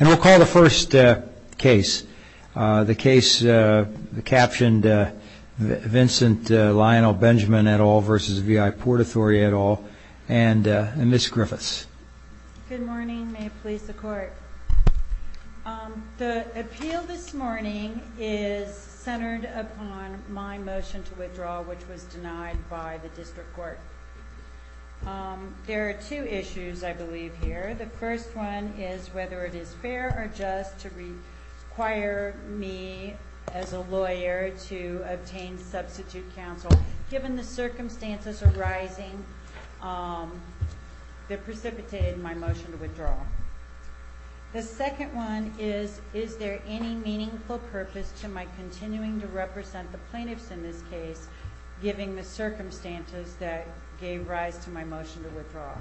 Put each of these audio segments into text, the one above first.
I'll call the first case. The case captioned Vincent Lionel Benjamin et al. v. VI Port Authority et al. and Ms. Griffiths. Good morning. May it please the Court. The appeal this morning is centered upon my motion to withdraw, which was denied by the District Court. There are two issues, I believe, here. The first one is whether it is fair or just to require me as a lawyer to obtain substitute counsel, given the circumstances arising that precipitated my motion to withdraw. The second one is, is there any meaningful purpose to my continuing to represent the plaintiffs in this case, given the circumstances that gave rise to my motion to withdraw?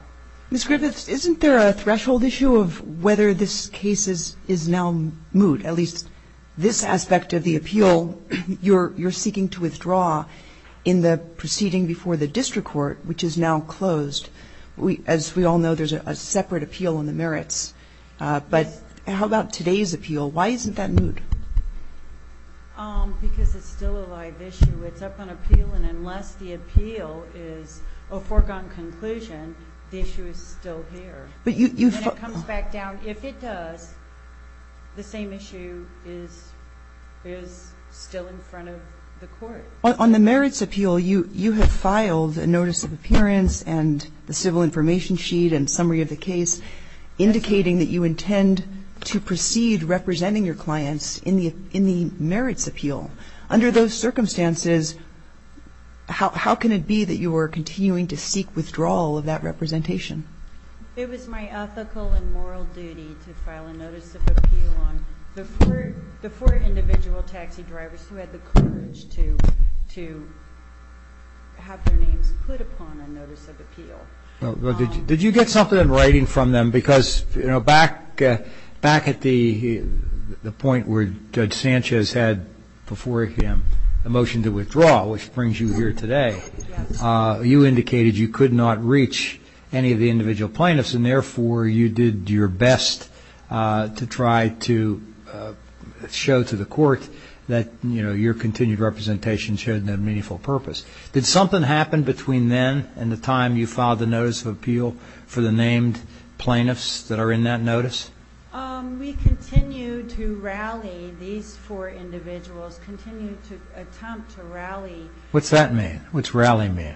Ms. Griffiths, isn't there a threshold issue of whether this case is now moot, at least this aspect of the appeal you're seeking to withdraw in the proceeding before the District Court, which is now closed? As we all know, there's a separate appeal on the merits. But how about today's appeal? Why isn't that moot? Because it's still a live issue. It's up on appeal, and unless the appeal is a foregone conclusion, the issue is still here. When it comes back down, if it does, the same issue is still in front of the Court. On the merits appeal, you have filed a notice of appearance and the civil information sheet and summary of the case indicating that you intend to proceed representing your clients in the merits appeal. Under those circumstances, how can it be that you are continuing to seek withdrawal of that representation? It was my ethical and moral duty to file a notice of appeal on the four individual taxi drivers who had the courage to have their names put upon a notice of appeal. Well, did you get something in writing from them? Because, you know, back at the point where Judge Sanchez had before him a motion to withdraw, which brings you here today, you indicated you could not reach any of the individual plaintiffs, and therefore you did your best to try to show to the Court that, you know, your continued representation showed no meaningful purpose. Did something happen between then and the time you filed the notice of appeal for the named plaintiffs that are in that notice? We continue to rally these four individuals, continue to attempt to rally. What's that mean? What's rally mean?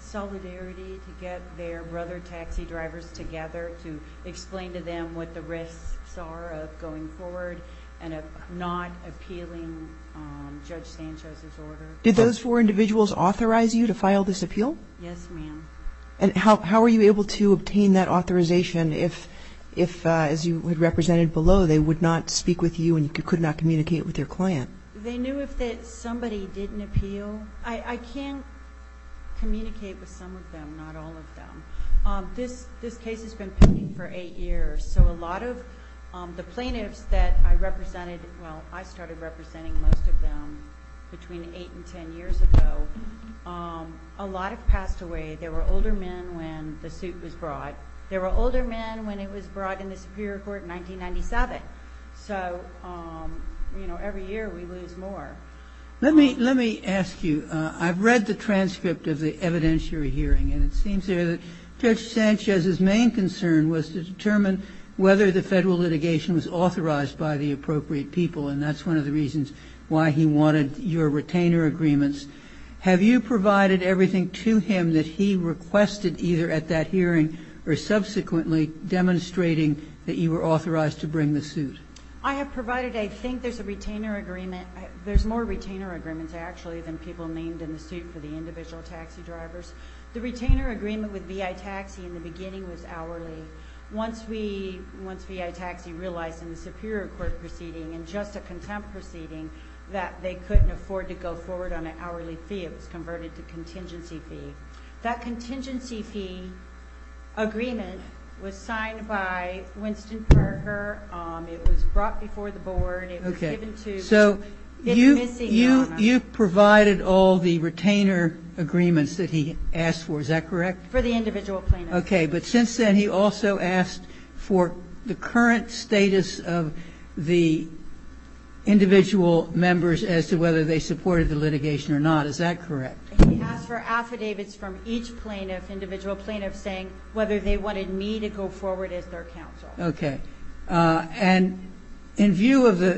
Solidarity to get their brother taxi drivers together to explain to them what the risks are of going forward and of not appealing Judge Sanchez's order. Did those four individuals authorize you to file this appeal? Yes, ma'am. And how were you able to obtain that authorization if, as you had represented below, they would not speak with you and you could not communicate with your client? They knew if somebody didn't appeal. I can't communicate with some of them, not all of them. This case has been pending for eight years, so a lot of the plaintiffs that I represented, well, I started representing most of them between eight and ten years ago. A lot have passed away. There were older men when the suit was brought. There were older men when it was brought in the Superior Court in 1997. So, you know, every year we lose more. Let me ask you, I've read the transcript of the evidence you're hearing, and it seems there that Judge Sanchez's main concern was to determine whether the federal litigation was authorized by the appropriate people, and that's one of the reasons why he wanted your retainer agreements. Have you provided everything to him that he requested either at that hearing or subsequently demonstrating that you were authorized to bring the suit? I have provided. I think there's a retainer agreement. There's more retainer agreements, actually, than people named in the suit for the individual taxi drivers. The retainer agreement with VI Taxi in the beginning was hourly. Once we, once VI Taxi realized in the Superior Court proceeding and just a contempt proceeding that they couldn't afford to go forward on an hourly fee, it was converted to contingency fee. That contingency fee agreement was signed by Winston Perker. It was brought before the board. It was given to. Okay, so you provided all the retainer agreements that he asked for. Is that correct? For the individual plaintiffs. Okay, but since then he also asked for the current status of the individual members as to whether they supported the litigation or not. Is that correct? He asked for affidavits from each plaintiff, individual plaintiffs, saying whether they wanted me to go forward as their counsel. Okay, and in view of the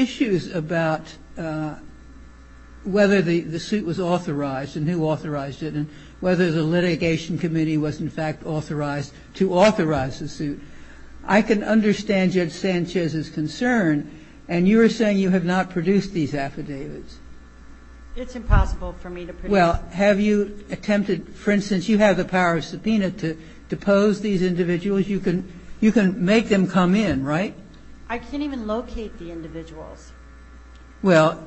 issues about whether the suit was authorized and who authorized it and whether the litigation committee was, in fact, authorized to authorize the suit, I can understand Judge Sanchez's concern, and you are saying you have not produced these affidavits. It's impossible for me to produce. Well, have you attempted, for instance, you have the power of subpoena to depose these individuals. You can make them come in, right? I can't even locate the individuals. Well,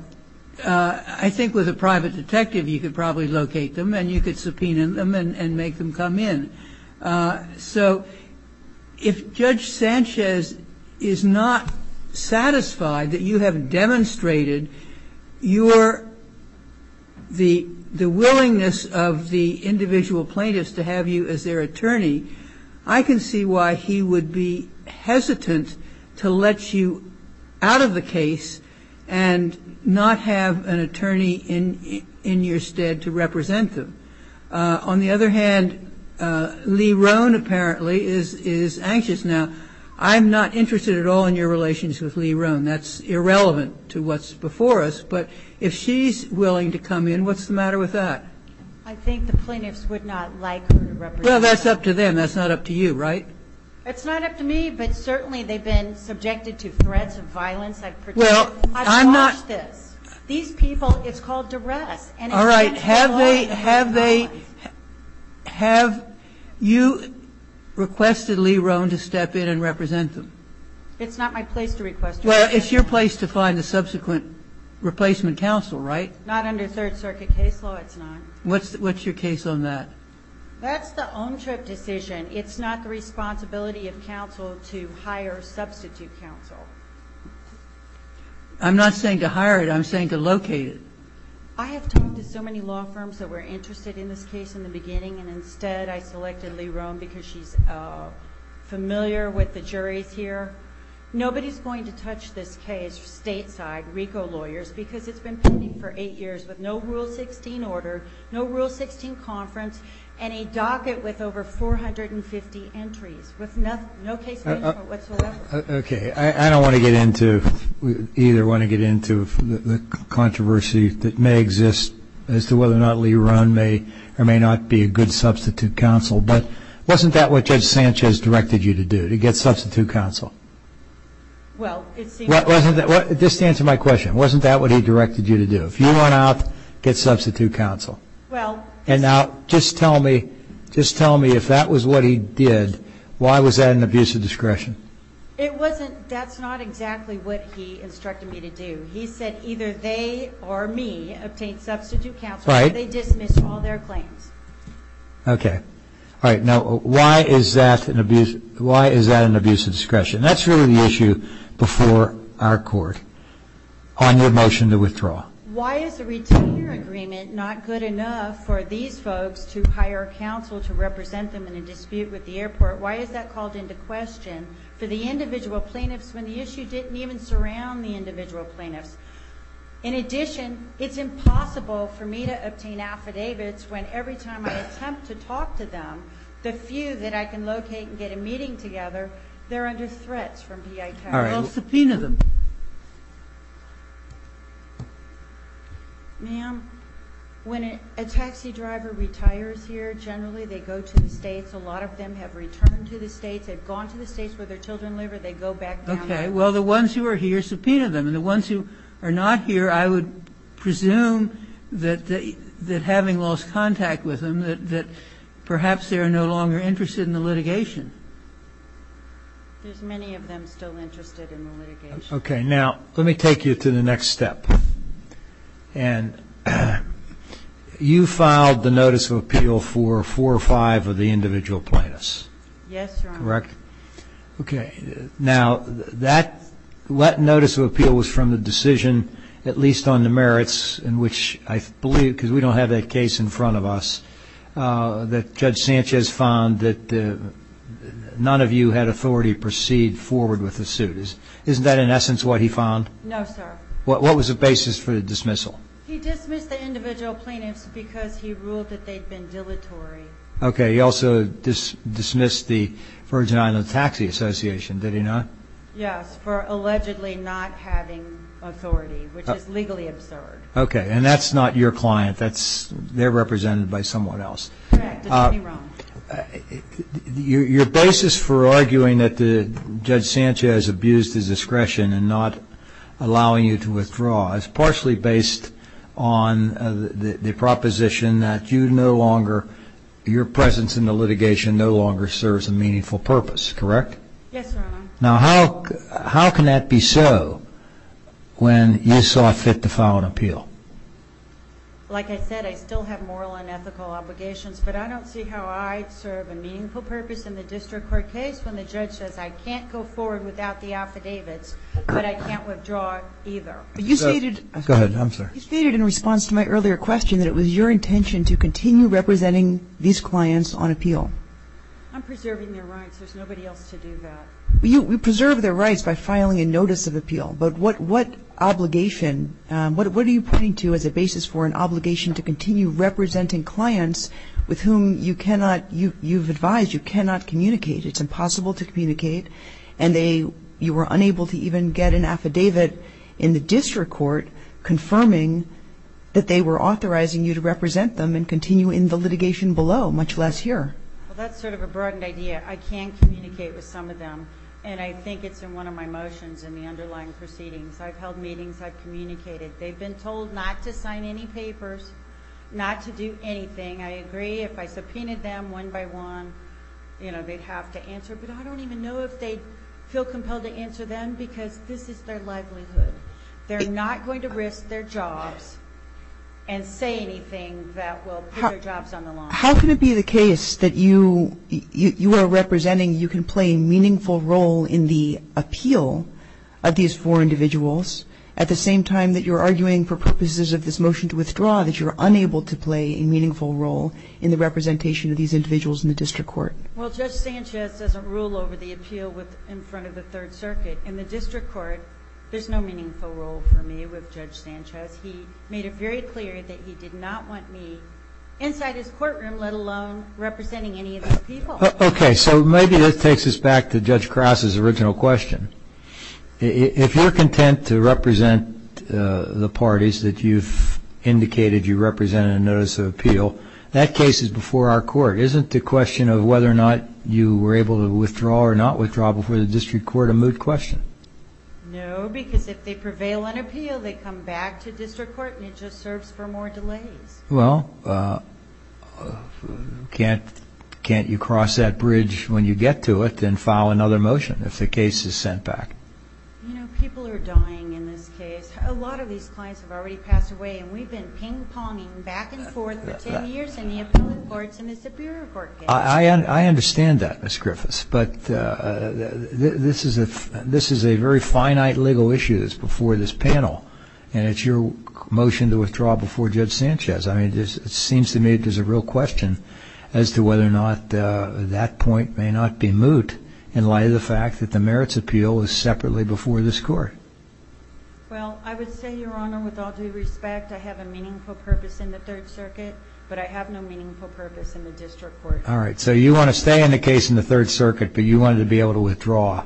I think with a private detective you could probably locate them and you could subpoena them and make them come in. So if Judge Sanchez is not satisfied that you have demonstrated your the willingness of the individual plaintiffs to have you as their attorney, I can see why he would be hesitant to let you out of the case and not have an attorney in your stead to represent them. On the other hand, Lerone apparently is anxious now. I'm not interested at all in your relations with Lerone. That's irrelevant to what's before us. But if she's willing to come in, what's the matter with that? I think the plaintiffs would not like her to represent them. Well, that's up to them. That's not up to you, right? It's not up to me, but certainly they've been subjected to threats of violence. I've watched this. These people, it's called duress. All right. Have you requested Lerone to step in and represent them? It's not my place to request it. Well, it's your place to find a subsequent replacement counsel, right? Not under Third Circuit case law, it's not. What's your case on that? That's the own trip decision. It's not the responsibility of counsel to hire a substitute counsel. I'm not saying to hire it. I'm saying to locate it. I have talked to so many law firms that were interested in this case in the beginning, and instead I selected Lerone because she's familiar with the juries here. Nobody's going to touch this case stateside, RICO lawyers, because it's been pending for eight years with no Rule 16 order, no Rule 16 conference, and a docket with over 450 entries, with no case management whatsoever. Okay. I don't want to get into the controversy that may exist as to whether or not Lerone may or may not be a good substitute counsel, but wasn't that what Judge Sanchez directed you to do, to get substitute counsel? Well, it seemed to be. Just to answer my question, wasn't that what he directed you to do? If you went out, get substitute counsel. And now just tell me if that was what he did, why was that an abuse of discretion? It wasn't. That's not exactly what he instructed me to do. He said either they or me obtain substitute counsel or they dismiss all their claims. Okay. All right. Now, why is that an abuse of discretion? That's really the issue before our court on your motion to withdraw. Why is the retainer agreement not good enough for these folks to hire counsel to represent them in a dispute with the airport? Why is that called into question for the individual plaintiffs when the issue didn't even surround the individual plaintiffs? In addition, it's impossible for me to obtain affidavits when every time I attempt to talk to them, the few that I can locate and get a meeting together, they're under threats from P.I. Towers. All right. Well, subpoena them. Ma'am, when a taxi driver retires here, generally they go to the states. A lot of them have returned to the states, have gone to the states where their children live or they go back down there. Okay. Well, the ones who are here, subpoena them. And the ones who are not here, I would presume that having lost contact with them, that perhaps they are no longer interested in the litigation. There's many of them still interested in the litigation. Okay. Now, let me take you to the next step. And you filed the notice of appeal for four or five of the individual plaintiffs. Yes, Your Honor. Correct? Okay. Now, that notice of appeal was from the decision, at least on the merits, in which I believe, because we don't have that case in front of us, that Judge Sanchez found that none of you had authority to proceed forward with the suit. Isn't that, in essence, what he found? No, sir. What was the basis for the dismissal? He dismissed the individual plaintiffs because he ruled that they'd been dilatory. Okay. He also dismissed the Virgin Islands Taxi Association, did he not? Yes, for allegedly not having authority, which is legally absurd. Okay. And that's not your client. They're represented by someone else. Correct. Don't get me wrong. Your basis for arguing that Judge Sanchez abused his discretion and not allowing you to withdraw is partially based on the proposition that your presence in the litigation no longer serves a meaningful purpose. Correct? Yes, Your Honor. Now, how can that be so when you saw fit to file an appeal? Like I said, I still have moral and ethical obligations, but I don't see how I'd serve a meaningful purpose in the district court case when the judge says, I can't go forward without the affidavits, but I can't withdraw either. Go ahead. I'm sorry. You stated in response to my earlier question that it was your intention to continue representing these clients on appeal. I'm preserving their rights. There's nobody else to do that. You preserve their rights by filing a notice of appeal, but what obligation, what are you pointing to as a basis for an obligation to continue representing clients with whom you cannot, you've advised you cannot communicate, it's impossible to communicate, and you were unable to even get an affidavit in the district court confirming that they were authorizing you to represent them and continue in the litigation below, much less here. Well, that's sort of a broadened idea. I can communicate with some of them, and I think it's in one of my motions in the underlying proceedings. I've held meetings. I've communicated. They've been told not to sign any papers, not to do anything. I agree if I subpoenaed them one by one, you know, they'd have to answer, but I don't even know if they'd feel compelled to answer them because this is their livelihood. They're not going to risk their jobs and say anything that will put their jobs on the line. How can it be the case that you are representing, you can play a meaningful role in the appeal of these four individuals at the same time that you're arguing for purposes of this motion to withdraw that you're unable to play a meaningful role in the representation of these individuals in the district court? Well, Judge Sanchez doesn't rule over the appeal in front of the Third Circuit. In the district court, there's no meaningful role for me with Judge Sanchez. He made it very clear that he did not want me inside his courtroom, let alone representing any of these people. Okay, so maybe this takes us back to Judge Krause's original question. If you're content to represent the parties that you've indicated you represent in a notice of appeal, that case is before our court. Isn't the question of whether or not you were able to withdraw or not withdraw before the district court a moot question? No, because if they prevail in appeal, they come back to district court, and it just serves for more delays. Well, can't you cross that bridge when you get to it and file another motion if the case is sent back? You know, people are dying in this case. A lot of these clients have already passed away, and we've been ping-ponging back and forth for 10 years in the appellate courts, and it's a bureau court case. I understand that, Ms. Griffiths, but this is a very finite legal issue that's before this panel, and it's your motion to withdraw before Judge Sanchez. I mean, it seems to me there's a real question as to whether or not that point may not be moot in light of the fact that the merits appeal is separately before this court. Well, I would say, Your Honor, with all due respect, I have a meaningful purpose in the Third Circuit, but I have no meaningful purpose in the district court. All right, so you want to stay in the case in the Third Circuit, but you wanted to be able to withdraw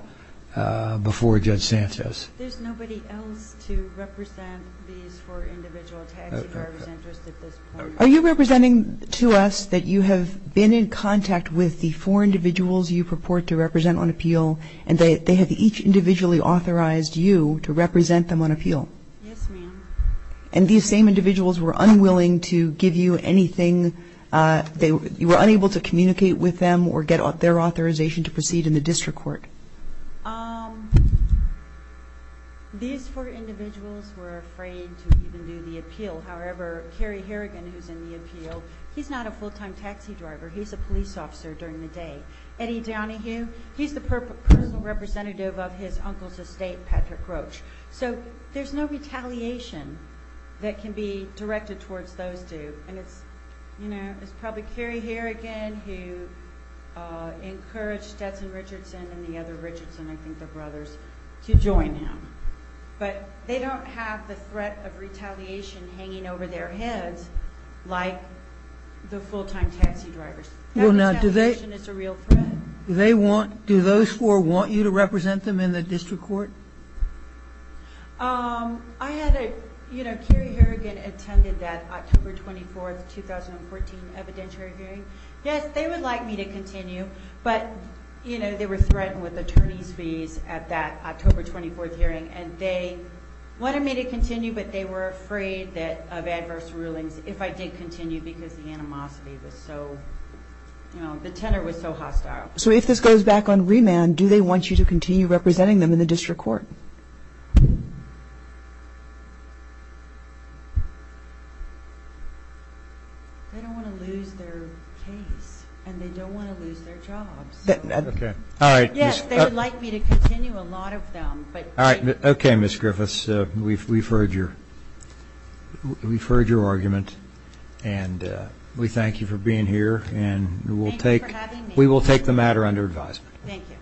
before Judge Sanchez. There's nobody else to represent these four individual taxi drivers interest at this point. Are you representing to us that you have been in contact with the four individuals you purport to represent on appeal, and they have each individually authorized you to represent them on appeal? Yes, ma'am. And these same individuals were unwilling to give you anything? You were unable to communicate with them or get their authorization to proceed in the district court? These four individuals were afraid to even do the appeal. However, Kerry Harrigan, who's in the appeal, he's not a full-time taxi driver. He's a police officer during the day. Eddie Downeyhugh, he's the personal representative of his uncle's estate, Patrick Roach. So there's no retaliation that can be directed towards those two, and it's probably Kerry Harrigan who encouraged Stetson Richardson and the other Richardsons, I think they're brothers, to join him. But they don't have the threat of retaliation hanging over their heads like the full-time taxi drivers. That retaliation is a real threat. Do those four want you to represent them in the district court? Kerry Harrigan attended that October 24, 2014, evidentiary hearing. Yes, they would like me to continue, but they were threatened with attorney's fees at that October 24 hearing, and they wanted me to continue, but they were afraid of adverse rulings if I did continue because the animosity was so, you know, the tenor was so hostile. So if this goes back on remand, do they want you to continue representing them in the district court? They don't want to lose their case, and they don't want to lose their jobs. Okay. All right. Yes, they would like me to continue a lot of them. All right. Okay, Ms. Griffiths. Ms. Griffiths, we've heard your argument, and we thank you for being here. Thank you for having me. We will take the matter under advisement. Thank you.